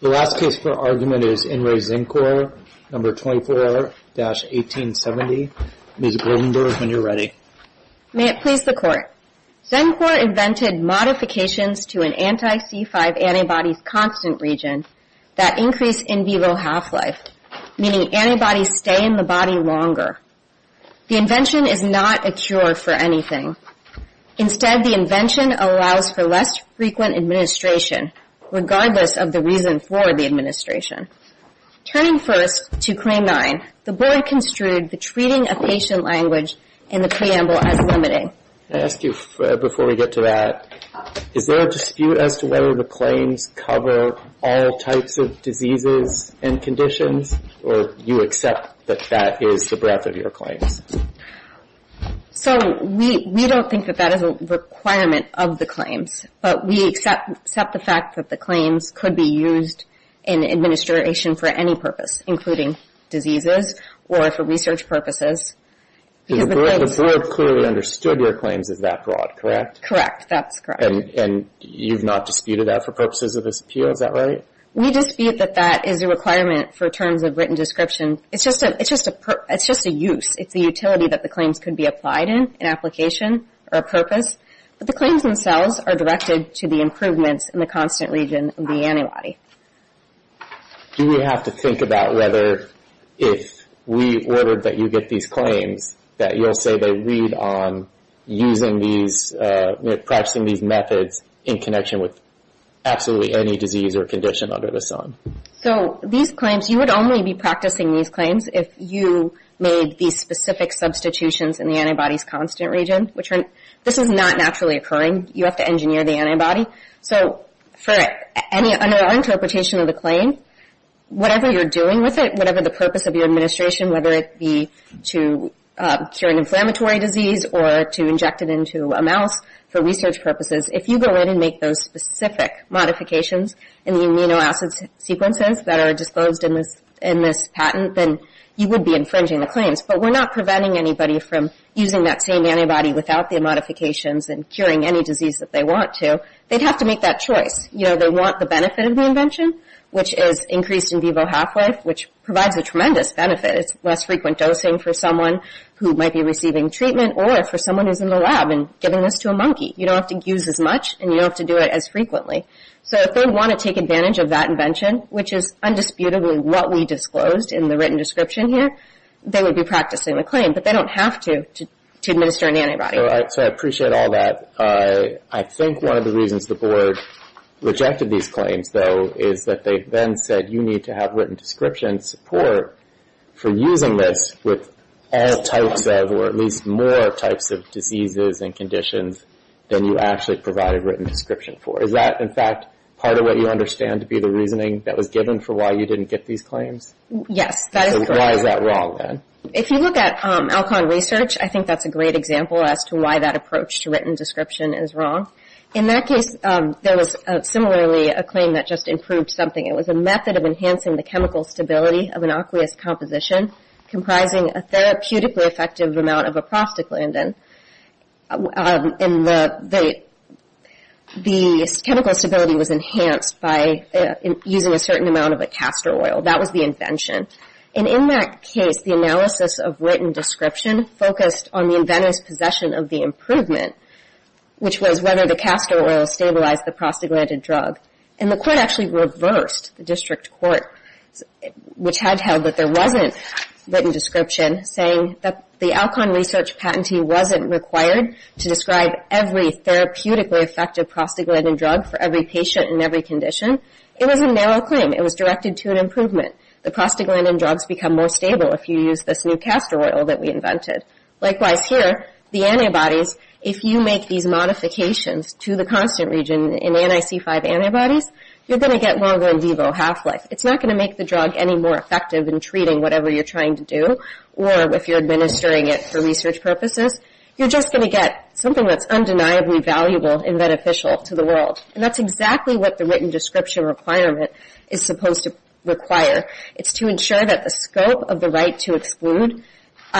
The last case for argument is In Re. Xencor No. 24-1870. Ms. Goldenberg, when you're ready. May it please the Court. Xencor invented modifications to an anti-C5 antibody's constant region that increase in vivo half-life, meaning antibodies stay in the body longer. The invention is not a cure for anything. Instead, the invention allows for less frequent administration, regardless of the reason for the administration. Turning first to Claim 9, the Board construed the treating of patient language in the preamble as limiting. Can I ask you, before we get to that, is there a dispute as to whether the claims cover all types of diseases and conditions, or you accept that that is the breadth of your claims? So, we don't think that that is a requirement of the claims, but we accept the fact that the claims could be used in administration for any purpose, including diseases or for research purposes. The Board clearly understood your claims as that broad, correct? Correct. That's correct. And you've not disputed that for purposes of this appeal, is that right? We dispute that that is a requirement for terms of written description. It's just a use. It's the utility that the claims could be applied in, an application or a purpose. But the claims themselves are directed to the improvements in the constant region of the antibody. Do we have to think about whether, if we ordered that you get these claims, that you'll say they read on using these, practicing these methods in connection with absolutely any disease or condition under the sun? So, these claims, you would only be practicing these claims if you made these specific substitutions in the antibody's constant region. This is not naturally occurring. You have to engineer the antibody. So, under our interpretation of the claim, whatever you're doing with it, whatever the purpose of your administration, whether it be to cure an inflammatory disease or to inject it into a mouse for research purposes, if you go in and make those specific modifications in the amino acid sequences that are disclosed in this patent, then you would be infringing the claims. But we're not preventing anybody from using that same antibody without the modifications and curing any disease that they want to. They'd have to make that choice. They want the benefit of the invention, which is increased in vivo half-life, which provides a tremendous benefit. It's less frequent dosing for someone who might be receiving treatment or for someone who's in the lab and giving this to a monkey. You don't have to use as much, and you don't have to do it as frequently. So, if they want to take advantage of that invention, which is undisputably what we disclosed in the written description here, they would be practicing the claim, but they don't have to administer an antibody. So, I appreciate all that. I think one of the reasons the board rejected these claims, though, is that they then said you need to have written description support for using this with all types of, or at least more types of diseases and conditions than you actually provided written description for. Is that, in fact, part of what you understand to be the reasoning that was given for why you didn't get these claims? Yes, that is correct. So, why is that wrong, then? If you look at Alcon research, I think that's a great example as to why that approach to written description is wrong. In that case, there was similarly a claim that just improved something. It was a method of enhancing the chemical stability of an aqueous composition comprising a therapeutically effective amount of a prostaglandin. The chemical stability was enhanced by using a certain amount of a castor oil. That was the invention. And in that case, the analysis of written description focused on the inventor's possession of the improvement, which was whether the castor oil stabilized the prostaglandin drug. And the court actually reversed the district court, which had held that there wasn't written description, saying that the Alcon research patentee wasn't required to describe every therapeutically effective prostaglandin drug for every patient in every condition. It was a narrow claim. It was directed to an improvement. The prostaglandin drugs become more stable if you use this new castor oil that we invented. Likewise here, the antibodies, if you make these modifications to the constant region in NIC5 antibodies, you're going to get longer in vivo half-life. It's not going to make the drug any more effective in treating whatever you're trying to do or if you're administering it for research purposes. You're just going to get something that's undeniably valuable and beneficial to the world. And that's exactly what the written description requirement is supposed to require. It's to ensure that the scope of the right to exclude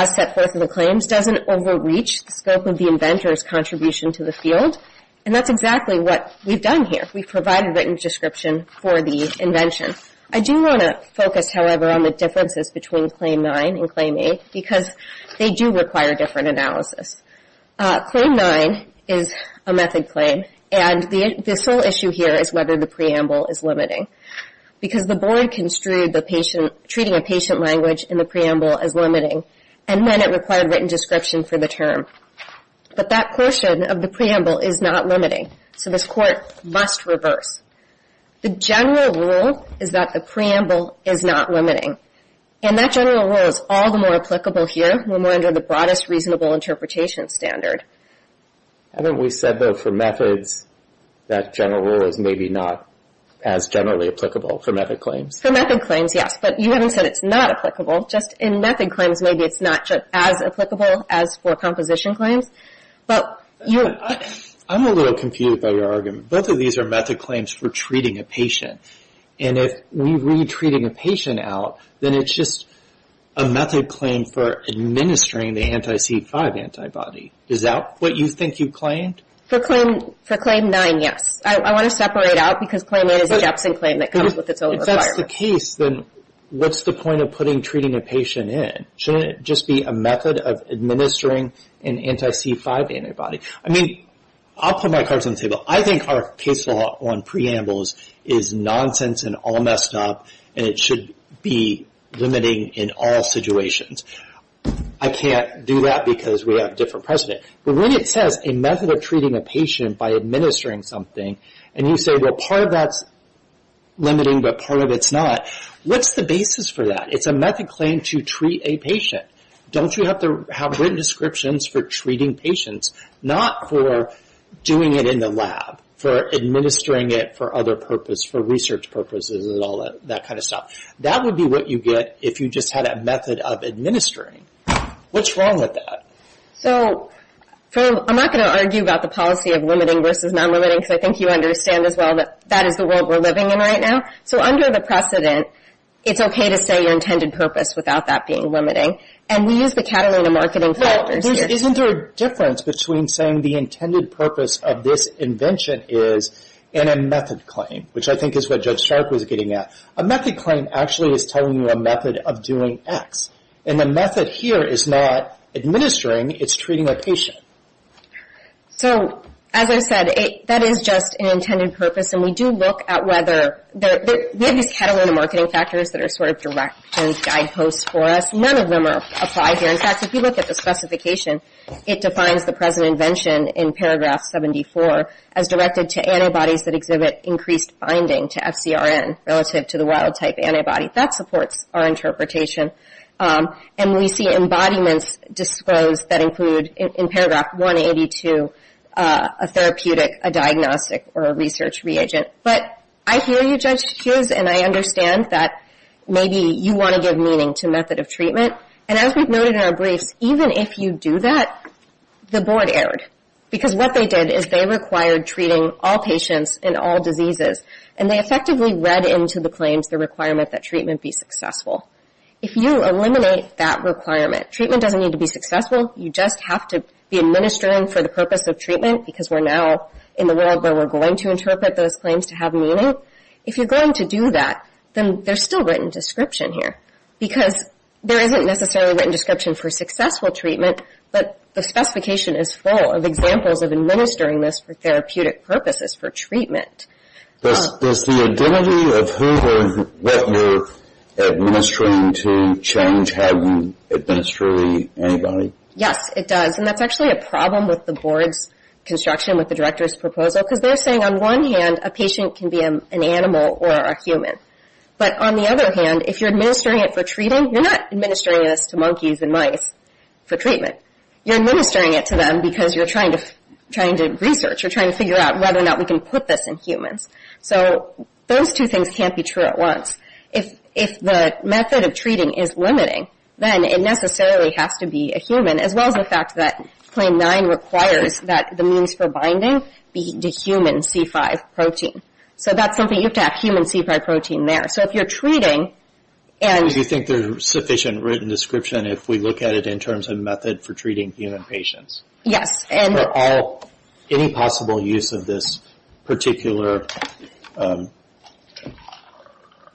set forth in the claims doesn't overreach the scope of the inventor's contribution to the field. And that's exactly what we've done here. We've provided written description for the invention. I do want to focus, however, on the differences between Claim 9 and Claim 8 because they do require different analysis. Claim 9 is a method claim, and the sole issue here is whether the preamble is limiting because the board construed treating a patient language in the preamble as limiting and then it required written description for the term. But that portion of the preamble is not limiting, so this court must reverse. The general rule is that the preamble is not limiting. And that general rule is all the more applicable here when we're under the broadest reasonable interpretation standard. Haven't we said, though, for methods that general rule is maybe not as generally applicable for method claims? For method claims, yes. But you haven't said it's not applicable. Just in method claims, maybe it's not as applicable as for composition claims. I'm a little confused by your argument. Both of these are method claims for treating a patient. And if we read treating a patient out, then it's just a method claim for administering the anti-C5 antibody. Is that what you think you claimed? For claim 9, yes. I want to separate out because claim 8 is a Jepson claim that comes with its own requirement. If that's the case, then what's the point of putting treating a patient in? Shouldn't it just be a method of administering an anti-C5 antibody? I mean, I'll put my cards on the table. I think our case law on preambles is nonsense and all messed up, and it should be limiting in all situations. I can't do that because we have different precedent. But when it says a method of treating a patient by administering something, and you say, well, part of that's limiting but part of it's not, what's the basis for that? It's a method claim to treat a patient. Don't you have written descriptions for treating patients, not for doing it in the lab, for administering it for other purposes, for research purposes and all that kind of stuff? That would be what you get if you just had a method of administering. What's wrong with that? So I'm not going to argue about the policy of limiting versus non-limiting because I think you understand as well that that is the world we're living in right now. So under the precedent, it's okay to say your intended purpose without that being limiting. And we use the Catalina marketing factors here. Isn't there a difference between saying the intended purpose of this invention is in a method claim, which I think is what Judge Stark was getting at? A method claim actually is telling you a method of doing X, and the method here is not administering, it's treating a patient. So as I said, that is just an intended purpose, and we do look at whether the Catalina marketing factors that are sort of directions, guideposts for us, none of them are applied here. In fact, if you look at the specification, it defines the present invention in paragraph 74 as directed to antibodies that exhibit increased binding to FCRN relative to the wild-type antibody. That supports our interpretation. And we see embodiments disclosed that include in paragraph 182 a therapeutic, a diagnostic, or a research reagent. But I hear you, Judge Hughes, and I understand that maybe you want to give meaning to method of treatment. And as we've noted in our briefs, even if you do that, the board erred. Because what they did is they required treating all patients and all diseases, and they effectively read into the claims the requirement that treatment be successful. If you eliminate that requirement, treatment doesn't need to be successful, you just have to be administering for the purpose of treatment, because we're now in the world where we're going to interpret those claims to have meaning. If you're going to do that, then there's still written description here. Because there isn't necessarily written description for successful treatment, but the specification is full of examples of administering this for therapeutic purposes, for treatment. Does the identity of who or what you're administering to change how you administer the antibody? Yes, it does. And that's actually a problem with the board's construction, with the director's proposal, because they're saying on one hand a patient can be an animal or a human. But on the other hand, if you're administering it for treating, you're not administering this to monkeys and mice for treatment. You're administering it to them because you're trying to research, you're trying to figure out whether or not we can put this in humans. So those two things can't be true at once. If the method of treating is limiting, then it necessarily has to be a human, as well as the fact that Claim 9 requires that the means for binding be the human C5 protein. So that's something you have to have, human C5 protein there. Do you think there's sufficient written description if we look at it in terms of method for treating human patients? Yes. For any possible use of this particular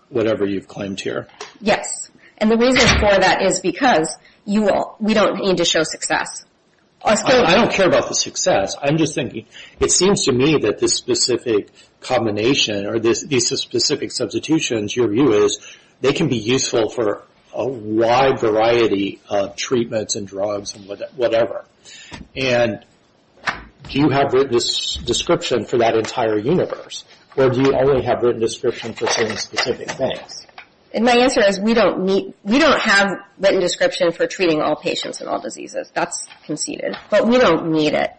whatever you've claimed here? Yes. And the reason for that is because we don't need to show success. I don't care about the success. I'm just thinking it seems to me that this specific combination or these specific substitutions, your view is they can be useful for a wide variety of treatments and drugs and whatever. And do you have written description for that entire universe, or do you only have written description for certain specific things? And my answer is we don't have written description for treating all patients and all diseases. That's conceded. But we don't need it,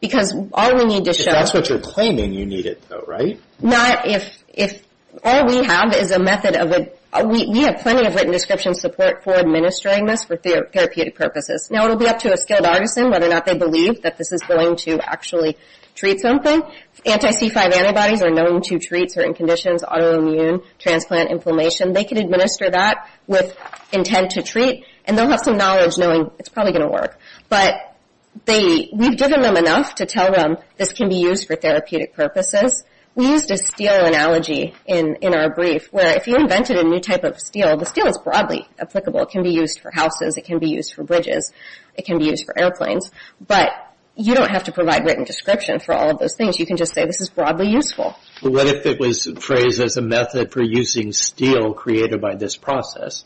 because all we need to show— If that's what you're claiming, you need it though, right? Not if—all we have is a method of a—we have plenty of written description support for administering this for therapeutic purposes. Now, it will be up to a skilled artisan whether or not they believe that this is going to actually treat something. Anti-C5 antibodies are known to treat certain conditions, autoimmune, transplant, inflammation. They can administer that with intent to treat, and they'll have some knowledge knowing it's probably going to work. But they—we've given them enough to tell them this can be used for therapeutic purposes. We used a steel analogy in our brief, where if you invented a new type of steel, the steel is broadly applicable. It can be used for houses. It can be used for bridges. It can be used for airplanes. But you don't have to provide written description for all of those things. You can just say this is broadly useful. What if it was phrased as a method for using steel created by this process?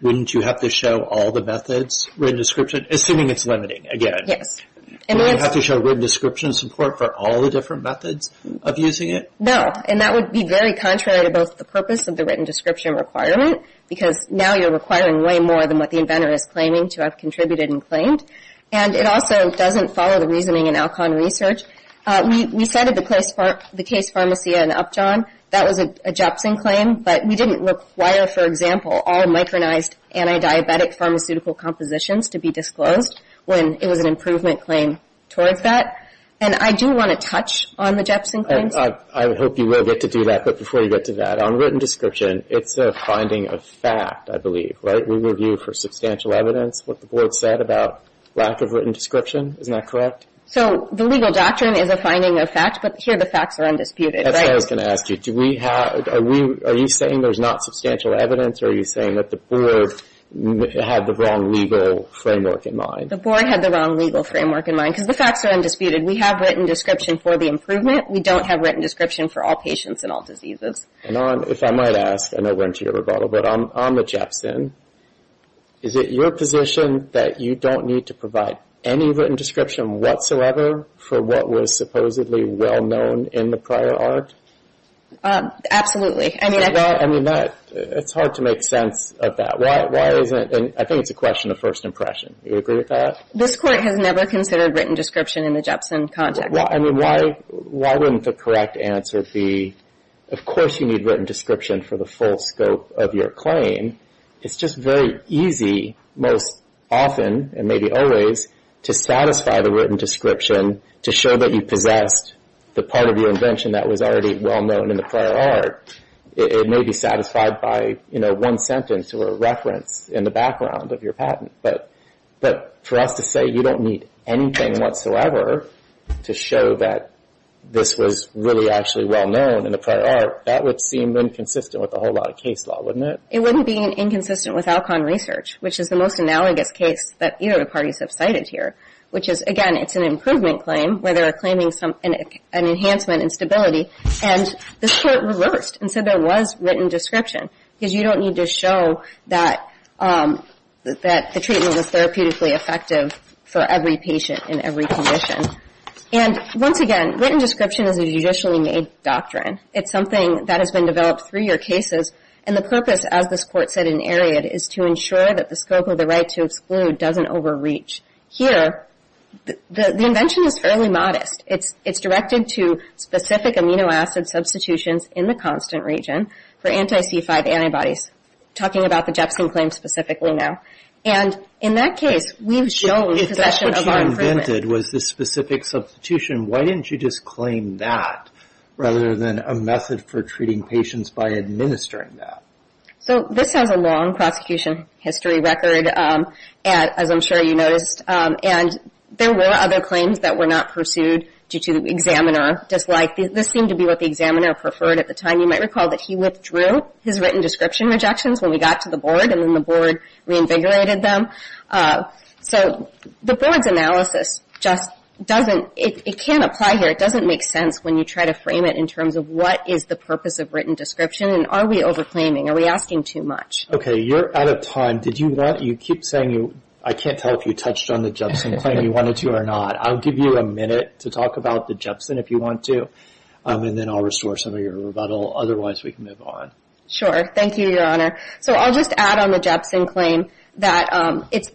Wouldn't you have to show all the methods, written description—assuming it's limiting, again? Wouldn't you have to show written description support for all the different methods of using it? No, and that would be very contrary to both the purpose of the written description requirement, because now you're requiring way more than what the inventor is claiming to have contributed and claimed. And it also doesn't follow the reasoning in Alcon research. We cited the case Pharmacia and Upjohn. That was a Jepson claim, but we didn't require, for example, all micronized anti-diabetic pharmaceutical compositions to be disclosed when it was an improvement claim towards that. And I do want to touch on the Jepson claims. I hope you will get to do that. But before you get to that, on written description, it's a finding of fact, I believe, right? We review for substantial evidence what the board said about lack of written description. Isn't that correct? So the legal doctrine is a finding of fact, but here the facts are undisputed, right? I was going to ask you, are you saying there's not substantial evidence, or are you saying that the board had the wrong legal framework in mind? The board had the wrong legal framework in mind, because the facts are undisputed. We have written description for the improvement. We don't have written description for all patients and all diseases. And if I might ask, I know we're into your rebuttal, but on the Jepson, is it your position that you don't need to provide any written description whatsoever for what was supposedly well-known in the prior art? Absolutely. I mean, it's hard to make sense of that. Why isn't it? I think it's a question of first impression. Do you agree with that? This Court has never considered written description in the Jepson context. I mean, why wouldn't the correct answer be, of course you need written description for the full scope of your claim. It's just very easy most often, and maybe always, to satisfy the written description to show that you possessed the part of your invention that was already well-known in the prior art. It may be satisfied by one sentence or a reference in the background of your patent. But for us to say you don't need anything whatsoever to show that this was really actually well-known in the prior art, that would seem inconsistent with a whole lot of case law, wouldn't it? It wouldn't be inconsistent with Alcon research, which is the most analogous case that either of the parties have cited here, which is, again, it's an improvement claim where they're claiming an enhancement in stability. And this Court reversed and said there was written description because you don't need to show that the treatment was therapeutically effective for every patient in every condition. And once again, written description is a judicially made doctrine. It's something that has been developed through your cases, and the purpose, as this Court said in Ariad, is to ensure that the scope of the right to exclude doesn't overreach. Here, the invention is fairly modest. It's directed to specific amino acid substitutions in the constant region for anti-C5 antibodies, talking about the Jepsin claim specifically now. And in that case, we've shown possession of our improvement. If what you invented was this specific substitution, why didn't you just claim that rather than a method for treating patients by administering that? So this has a long prosecution history record, as I'm sure you noticed, and there were other claims that were not pursued due to examiner dislike. This seemed to be what the examiner preferred at the time. You might recall that he withdrew his written description rejections when we got to the Board, and then the Board reinvigorated them. So the Board's analysis just doesn't, it can't apply here. It doesn't make sense when you try to frame it in terms of what is the purpose of written description, and are we over-claiming? Are we asking too much? Okay, you're out of time. Did you want, you keep saying you, I can't tell if you touched on the Jepsin claim and you wanted to or not. I'll give you a minute to talk about the Jepsin if you want to, and then I'll restore some of your rebuttal. Otherwise, we can move on. Sure. Thank you, Your Honor. So I'll just add on the Jepsin claim that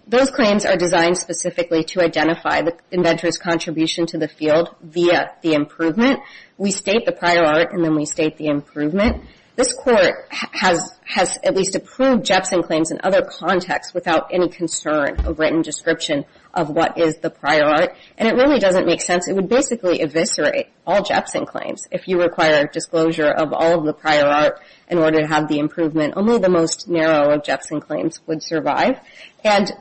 those claims are designed specifically to identify the inventor's contribution to the field via the improvement. We state the prior art, and then we state the improvement. This Court has at least approved Jepsin claims in other contexts without any concern of written description of what is the prior art, and it really doesn't make sense. It would basically eviscerate all Jepsin claims if you require disclosure of all of the prior art in order to have the improvement. Only the most narrow of Jepsin claims would survive. And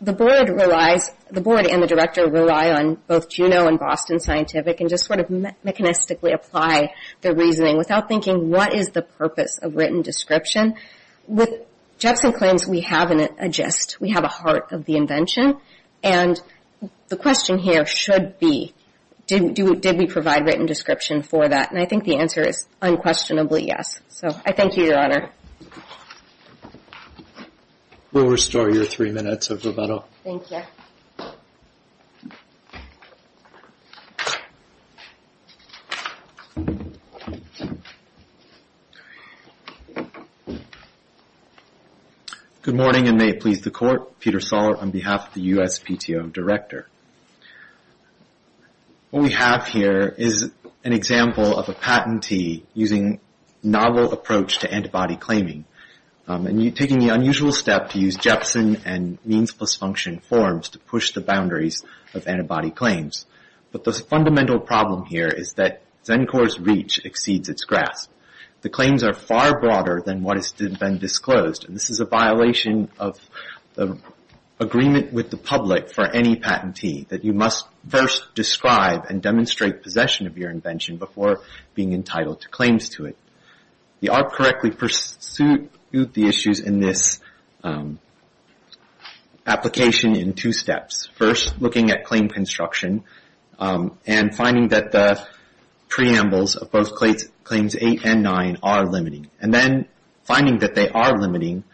the Board relies, the Board and the Director rely on both Juneau and Boston Scientific and just sort of mechanistically apply their reasoning without thinking what is the purpose of written description. With Jepsin claims, we have a gist. We have a heart of the invention. And the question here should be did we provide written description for that? And I think the answer is unquestionably yes. So I thank you, Your Honor. We'll restore your three minutes of rebuttal. Thank you. Good morning, and may it please the Court. Peter Sollert on behalf of the USPTO Director. What we have here is an example of a patentee using novel approach to antibody claiming and taking the unusual step to use Jepsin and means plus function forms to push the boundaries of antibody claims. But the fundamental problem here is that ZEN-COR's reach exceeds its grasp. The claims are far broader than what has been disclosed, and this is a violation of the agreement with the public for any patentee, that you must first describe and demonstrate possession of your invention before being entitled to claims to it. The ARP correctly pursued the issues in this application in two steps. First, looking at claim construction and finding that the preambles of both Claims 8 and 9 are limiting. And then finding that they are limiting,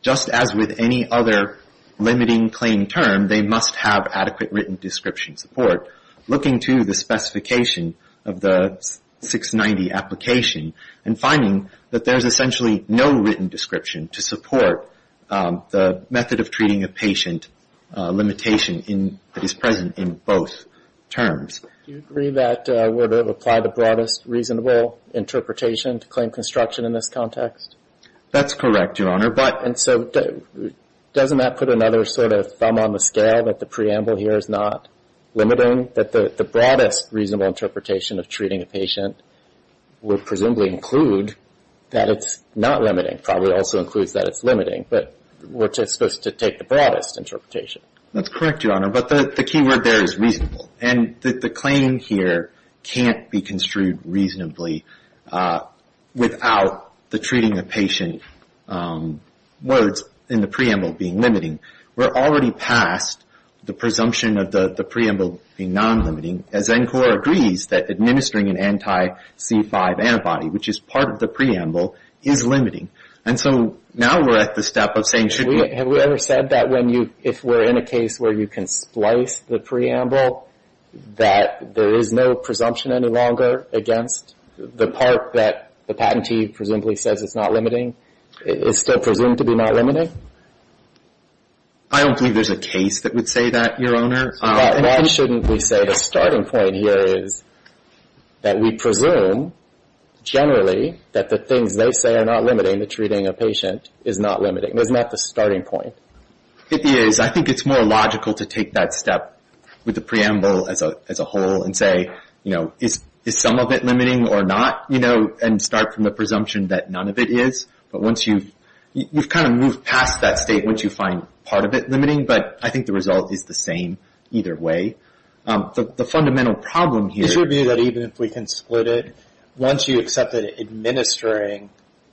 just as with any other limiting claim term, they must have adequate written description support, looking to the specification of the 690 application and finding that there is essentially no written description to support the method of treating a patient limitation that is present in both terms. Do you agree that we're to apply the broadest reasonable interpretation to claim construction in this context? That's correct, Your Honor. And so doesn't that put another sort of thumb on the scale, that the preamble here is not limiting, that the broadest reasonable interpretation of treating a patient would presumably include that it's not limiting, probably also includes that it's limiting, but we're supposed to take the broadest interpretation. That's correct, Your Honor, but the key word there is reasonable. And the claim here can't be construed reasonably without the treating a patient words in the preamble being limiting. We're already past the presumption of the preamble being non-limiting, as NCORP agrees that administering an anti-C5 antibody, which is part of the preamble, is limiting. And so now we're at the step of saying should we... Have we ever said that if we're in a case where you can splice the preamble, that there is no presumption any longer against the part that the patentee presumably says it's not limiting? Is still presumed to be not limiting? I don't believe there's a case that would say that, Your Honor. Why shouldn't we say the starting point here is that we presume generally that the things they say are not limiting, the treating a patient is not limiting. It's not the starting point. It is. I think it's more logical to take that step with the preamble as a whole and say, you know, is some of it limiting or not, you know, and start from the presumption that none of it is. But once you've kind of moved past that statement, you find part of it limiting. But I think the result is the same either way. The fundamental problem here... It would be that even if we can split it, once you accept that administering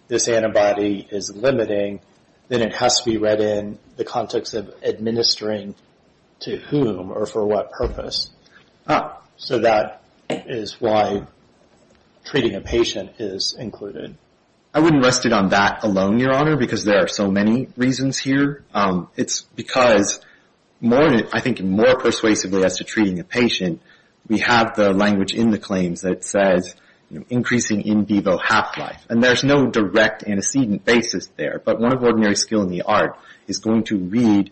this antibody is limiting, then it has to be read in the context of administering to whom or for what purpose. So that is why treating a patient is included. I wouldn't rest it on that alone, Your Honor, because there are so many reasons here. It's because I think more persuasively as to treating a patient, we have the language in the claims that says increasing in vivo half-life. And there's no direct antecedent basis there. But one of ordinary skill in the art is going to read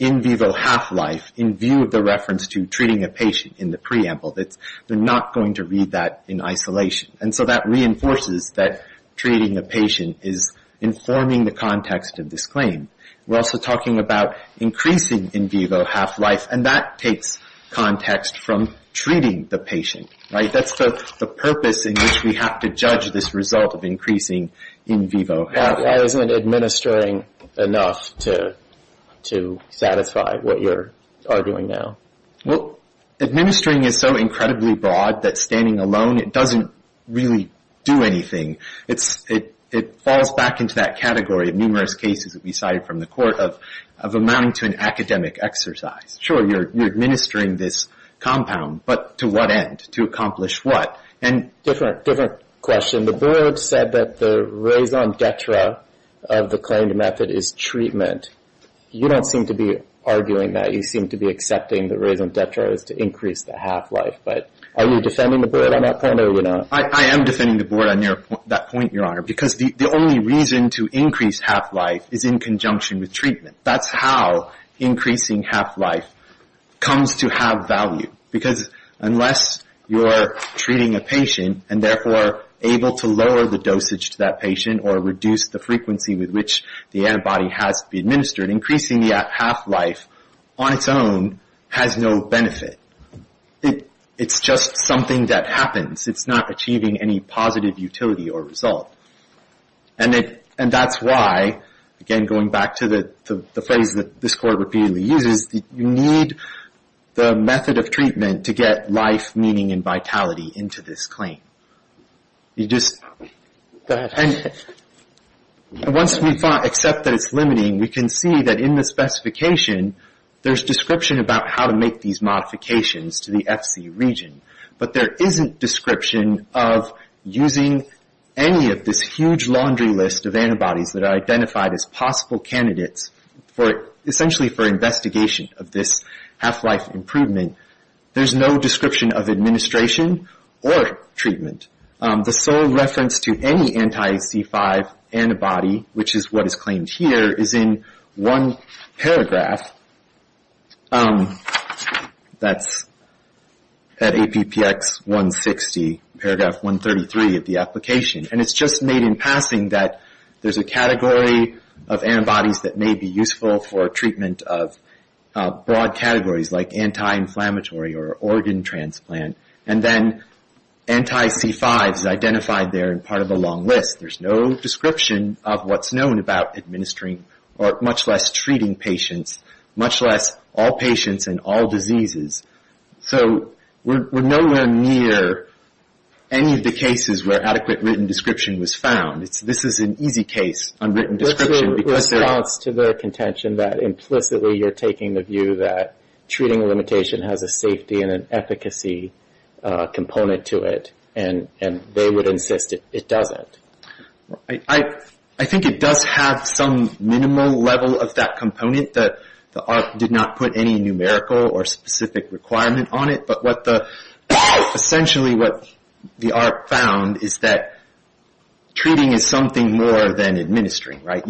in vivo half-life in view of the reference to treating a patient in the preamble. They're not going to read that in isolation. And so that reinforces that treating a patient is informing the context of this claim. We're also talking about increasing in vivo half-life, and that takes context from treating the patient, right? That's the purpose in which we have to judge this result of increasing in vivo half-life. So why isn't administering enough to satisfy what you're arguing now? Well, administering is so incredibly broad that standing alone, it doesn't really do anything. It falls back into that category of numerous cases that we cited from the court of amounting to an academic exercise. Sure, you're administering this compound, but to what end? To accomplish what? Different question. The board said that the raison d'etre of the claimed method is treatment. You don't seem to be arguing that. You seem to be accepting the raison d'etre is to increase the half-life. But are you defending the board on that point, or are you not? I am defending the board on that point, Your Honor, because the only reason to increase half-life is in conjunction with treatment. That's how increasing half-life comes to have value. Because unless you're treating a patient and therefore able to lower the dosage to that patient or reduce the frequency with which the antibody has to be administered, increasing the half-life on its own has no benefit. It's just something that happens. It's not achieving any positive utility or result. And that's why, again going back to the phrase that this court repeatedly uses, you need the method of treatment to get life, meaning, and vitality into this claim. Go ahead. And once we accept that it's limiting, we can see that in the specification, there's description about how to make these modifications to the FC region. But there isn't description of using any of this huge laundry list of antibodies that are identified as possible candidates essentially for investigation of this half-life improvement. There's no description of administration or treatment. The sole reference to any anti-C5 antibody, which is what is claimed here, is in one paragraph. That's at APPX 160, paragraph 133 of the application. And it's just made in passing that there's a category of antibodies that may be useful for treatment of broad categories, like anti-inflammatory or organ transplant. And then anti-C5 is identified there in part of a long list. There's no description of what's known about administering or much less treating patients, much less all patients and all diseases. So we're nowhere near any of the cases where adequate written description was found. This is an easy case on written description. There's a response to the contention that implicitly you're taking the view that treating a limitation has a safety and an efficacy component to it, and they would insist it doesn't. I think it does have some minimal level of that component. The ARP did not put any numerical or specific requirement on it, but essentially what the ARP found is that treating is something more than administering, right?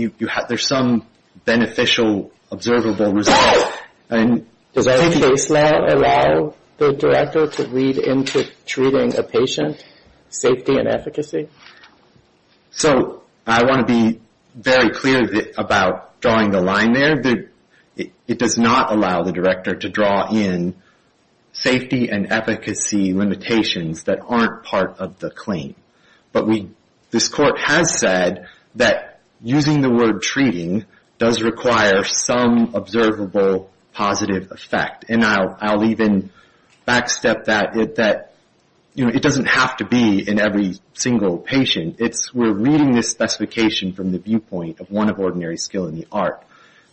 There's some beneficial, observable result. Does our case lab allow the director to read into treating a patient, safety and efficacy? So I want to be very clear about drawing the line there. It does not allow the director to draw in safety and efficacy limitations that aren't part of the claim. But this court has said that using the word treating does require some observable positive effect. And I'll even backstep that. It doesn't have to be in every single patient. We're reading this specification from the viewpoint of one of ordinary skill in the ARP.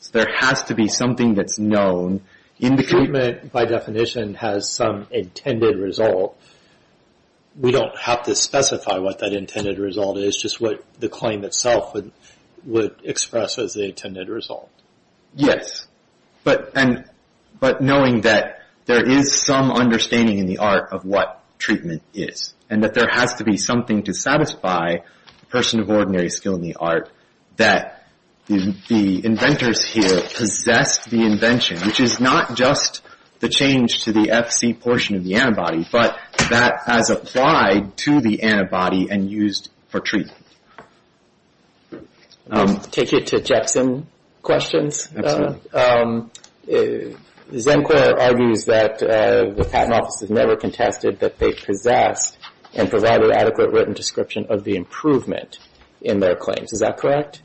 So there has to be something that's known. Treatment, by definition, has some intended result. We don't have to specify what that intended result is, just what the claim itself would express as the intended result. Yes. But knowing that there is some understanding in the ARP of what treatment is, and that there has to be something to satisfy the person of ordinary skill in the ARP, that the inventors here possessed the invention, which is not just the change to the FC portion of the antibody, but that as applied to the antibody and used for treatment. I'll take it to Jexson questions. Zencore argues that the Patent Office has never contested that they possessed and provided adequate written description of the improvement in their claims. Is that correct?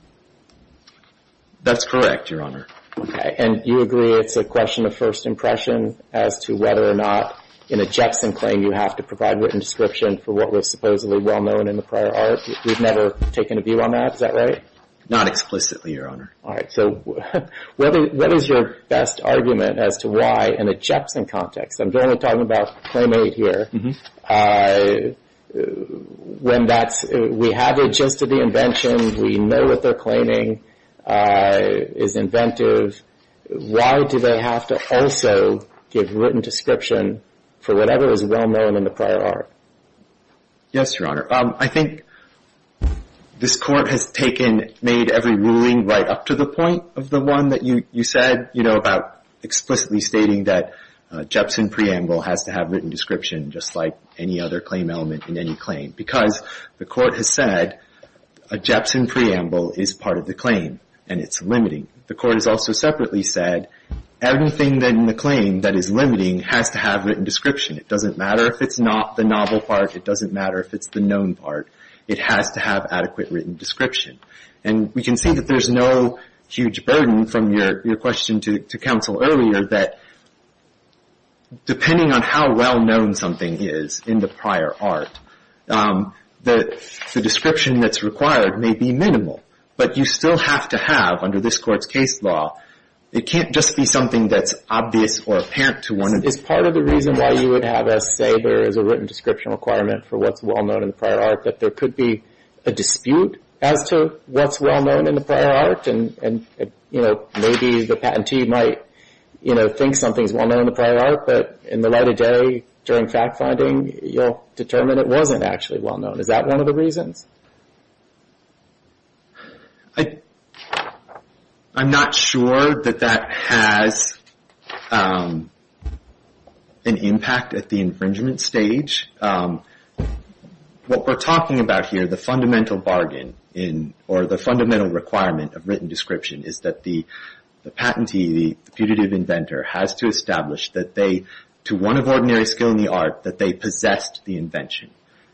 That's correct, Your Honor. Okay. And you agree it's a question of first impression as to whether or not in a Jexson claim you have to provide written description for what was supposedly well-known in the prior ARP? We've never taken a view on that, is that right? Not explicitly, Your Honor. All right. So what is your best argument as to why in a Jexson context, I'm generally talking about claim eight here, when we have it just at the invention, we know what they're claiming is inventive, why do they have to also give written description for whatever is well-known in the prior ARP? Yes, Your Honor. I think this Court has made every ruling right up to the point of the one that you said, you know, about explicitly stating that a Jexson preamble has to have written description just like any other claim element in any claim, because the Court has said a Jexson preamble is part of the claim and it's limiting. The Court has also separately said everything in the claim that is limiting has to have written description. It doesn't matter if it's not the novel part. It doesn't matter if it's the known part. It has to have adequate written description. And we can see that there's no huge burden from your question to counsel earlier that, depending on how well-known something is in the prior ARP, the description that's required may be minimal. But you still have to have, under this Court's case law, it can't just be something that's obvious or apparent to one individual. Is there a reason why you would have us say there is a written description requirement for what's well-known in the prior ARP, that there could be a dispute as to what's well-known in the prior ARP? And, you know, maybe the patentee might, you know, think something's well-known in the prior ARP, but in the light of day, during fact-finding, you'll determine it wasn't actually well-known. Is that one of the reasons? I'm not sure that that has an impact at the infringement stage. What we're talking about here, the fundamental bargain, or the fundamental requirement of written description, is that the patentee, the putative inventor, has to establish that they, to one of ordinary skill in the ARP, that they possessed the invention.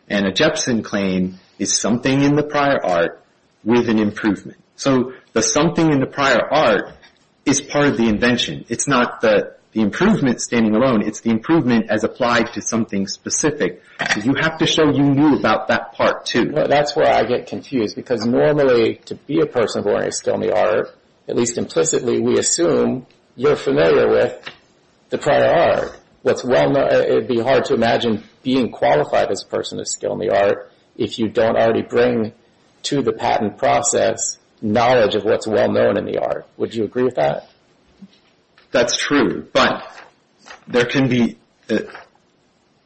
And a Jepson claim is something in the prior ARP with an improvement. So the something in the prior ARP is part of the invention. It's not the improvement standing alone. It's the improvement as applied to something specific. So you have to show you knew about that part, too. That's where I get confused, because normally, to be a person of ordinary skill in the ARP, at least implicitly, we assume you're familiar with the prior ARP. It would be hard to imagine being qualified as a person of skill in the ARP if you don't already bring to the patent process knowledge of what's well-known in the ARP. Would you agree with that? That's true, but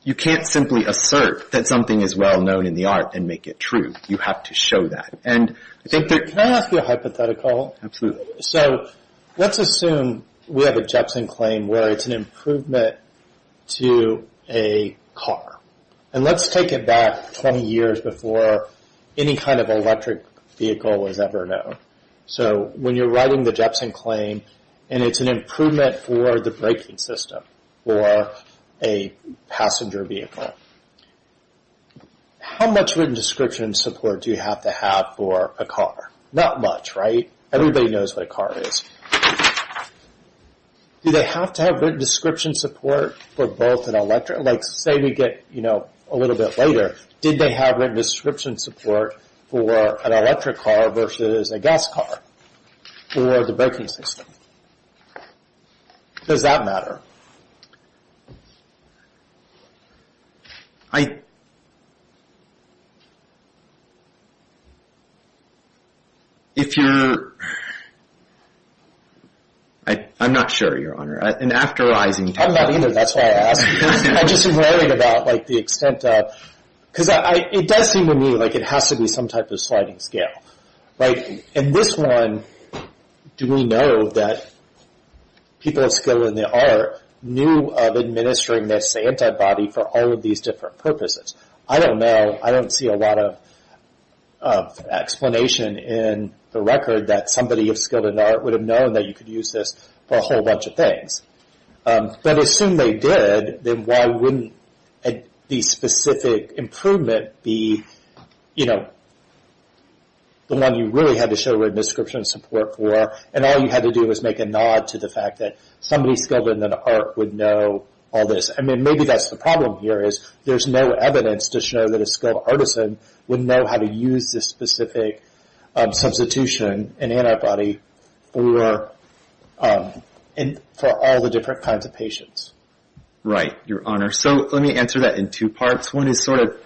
you can't simply assert that something is well-known in the ARP and make it true. You have to show that. Can I ask you a hypothetical? Absolutely. So let's assume we have a Jepson claim where it's an improvement to a car. And let's take it back 20 years before any kind of electric vehicle was ever known. So when you're writing the Jepson claim and it's an improvement for the braking system or a passenger vehicle, how much written description support do you have to have for a car? Not much, right? Everybody knows what a car is. Do they have to have written description support for both an electric? Like say we get, you know, a little bit later, did they have written description support for an electric car versus a gas car or the braking system? Does that matter? I'm not sure, Your Honor. I'm not either, that's why I asked. I'm just inquiring about the extent of, because it does seem to me like it has to be some type of sliding scale. In this one, do we know that people of skill in the art knew of administering this antibody for all of these different purposes? I don't know. I don't see a lot of explanation in the record that somebody of skill in the art would have known that you could use this for a whole bunch of things. But assume they did, then why wouldn't the specific improvement be, you know, the one you really had to show written description support for, and all you had to do was make a nod to the fact that somebody skilled in the art would know all this. I mean, maybe that's the problem here is there's no evidence to show that a skilled artisan would know how to use this Right, Your Honor. So let me answer that in two parts. One is sort of,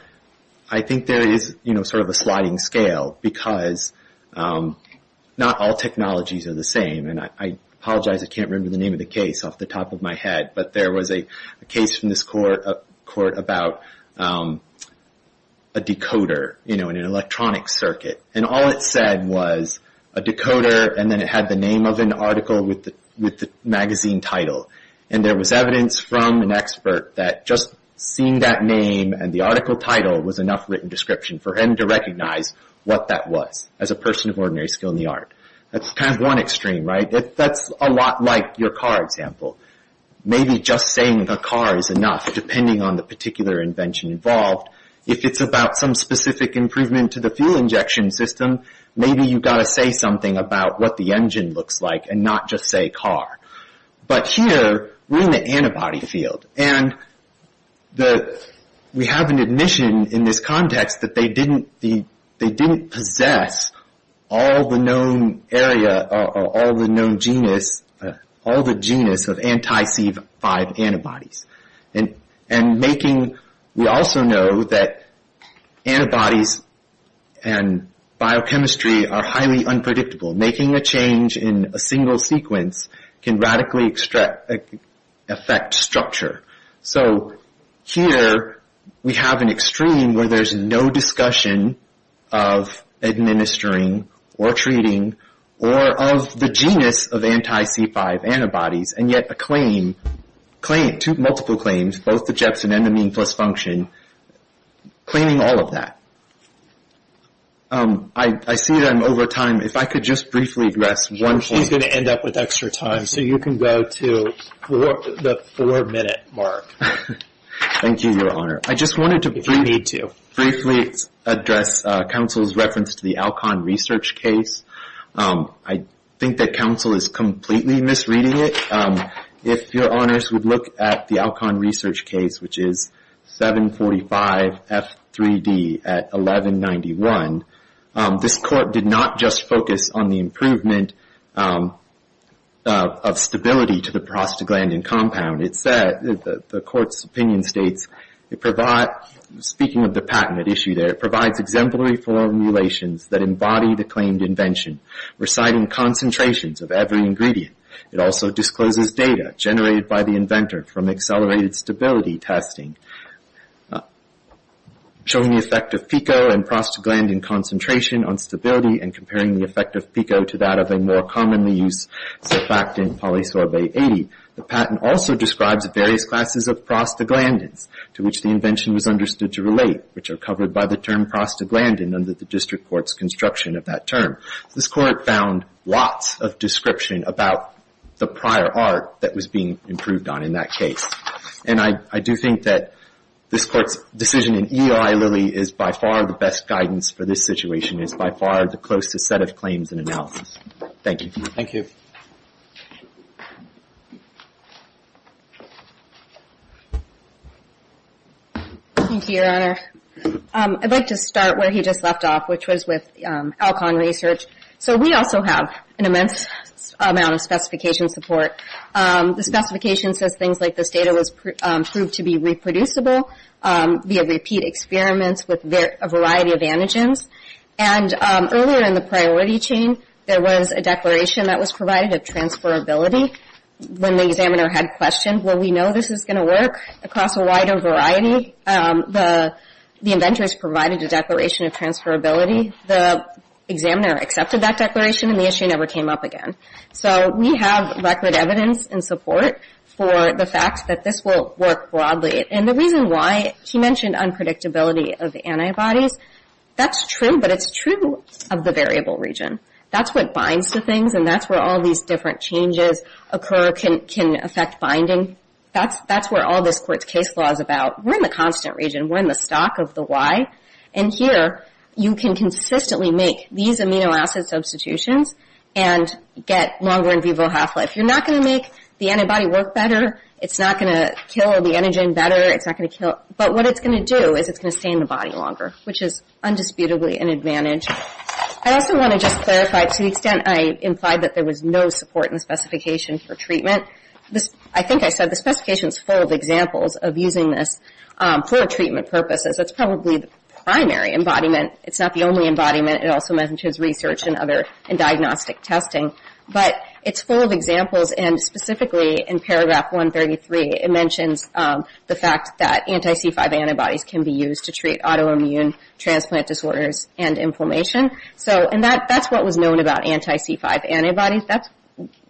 I think there is sort of a sliding scale because not all technologies are the same. And I apologize, I can't remember the name of the case off the top of my head, but there was a case from this court about a decoder, you know, in an electronic circuit. And all it said was a decoder, and then it had the name of an article with the magazine title. And there was evidence from an expert that just seeing that name and the article title was enough written description for him to recognize what that was, as a person of ordinary skill in the art. That's kind of one extreme, right? That's a lot like your car example. Maybe just saying a car is enough, depending on the particular invention involved. If it's about some specific improvement to the fuel injection system, maybe you've got to say something about what the engine looks like and not just say car. But here, we're in the antibody field. And we have an admission in this context that they didn't possess all the known area or all the known genus, all the genus of anti-C5 antibodies. And making, we also know that antibodies and biochemistry are highly unpredictable. Making a change in a single sequence can radically affect structure. So here, we have an extreme where there's no discussion of administering or treating or of the genus of anti-C5 antibodies, and yet a claim, two multiple claims, both the Jepson and the mean plus function, claiming all of that. I see that I'm over time. If I could just briefly address one point. He's going to end up with extra time, so you can go to the four-minute mark. Thank you, Your Honor. If you need to. I just wanted to briefly address counsel's reference to the Alcon research case. I think that counsel is completely misreading it. If your honors would look at the Alcon research case, which is 745F3D at 1191, this court did not just focus on the improvement of stability to the prostaglandin compound. The court's opinion states, speaking of the patent issue there, it provides exemplary formulations that embody the claimed invention, reciting concentrations of every ingredient. It also discloses data generated by the inventor from accelerated stability testing, showing the effect of PICO and prostaglandin concentration on stability and comparing the effect of PICO to that of a more commonly used surfactant, polysorbate 80. The patent also describes various classes of prostaglandins to which the invention was understood to relate, which are covered by the term prostaglandin under the district court's construction of that term. This court found lots of description about the prior art that was being improved on in that case. And I do think that this court's decision in EOI Lilly is by far the best guidance for this situation, is by far the closest set of claims and analysis. Thank you. Thank you. Thank you, Your Honor. I'd like to start where he just left off, which was with Alcon Research. So we also have an immense amount of specification support. The specification says things like this data was proved to be reproducible via repeat experiments with a variety of antigens. And earlier in the priority chain, there was a declaration that was provided of transferability. When the examiner had questioned, well, we know this is going to work across a wider variety, the inventors provided a declaration of transferability. The examiner accepted that declaration, and the issue never came up again. So we have record evidence and support for the fact that this will work broadly. And the reason why he mentioned unpredictability of antibodies, that's true, but it's true of the variable region. That's what binds to things, and that's where all these different changes occur, can affect binding. That's where all this court's case law is about. We're in the constant region. We're in the stock of the why. And here, you can consistently make these amino acid substitutions and get longer in vivo half-life. You're not going to make the antibody work better. It's not going to kill the antigen better. It's not going to kill. But what it's going to do is it's going to stay in the body longer, which is undisputably an advantage. I also want to just clarify, to the extent I implied that there was no support in the specification for treatment, I think I said the specification's full of examples of using this for treatment purposes. That's probably the primary embodiment. It's not the only embodiment. It also mentions research and other diagnostic testing. But it's full of examples, and specifically in paragraph 133, it mentions the fact that anti-C5 antibodies can be used to treat autoimmune transplant disorders and inflammation. And that's what was known about anti-C5 antibodies. That's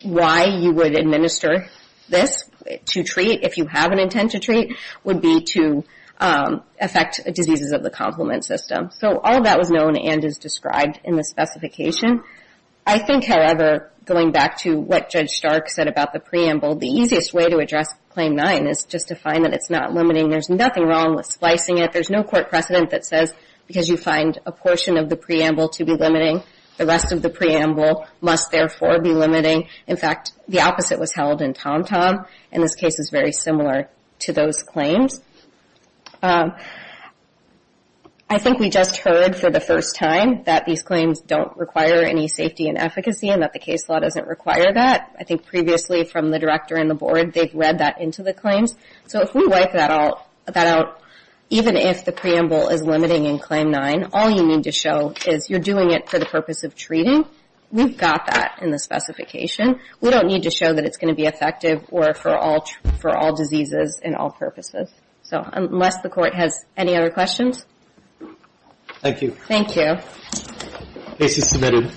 why you would administer this to treat, if you have an intent to treat, would be to affect diseases of the complement system. So all of that was known and is described in the specification. I think, however, going back to what Judge Stark said about the preamble, the easiest way to address Claim 9 is just to find that it's not limiting. There's nothing wrong with splicing it. There's no court precedent that says because you find a portion of the preamble to be limiting, the rest of the preamble must, therefore, be limiting. In fact, the opposite was held in TomTom, and this case is very similar to those claims. I think we just heard for the first time that these claims don't require any safety and efficacy and that the case law doesn't require that. I think previously from the director and the board, they've read that into the claims. So if we wipe that out, even if the preamble is limiting in Claim 9, all you need to show is you're doing it for the purpose of treating. We've got that in the specification. We don't need to show that it's going to be effective or for all diseases and all purposes. So unless the court has any other questions. Thank you. Thank you. Case is submitted.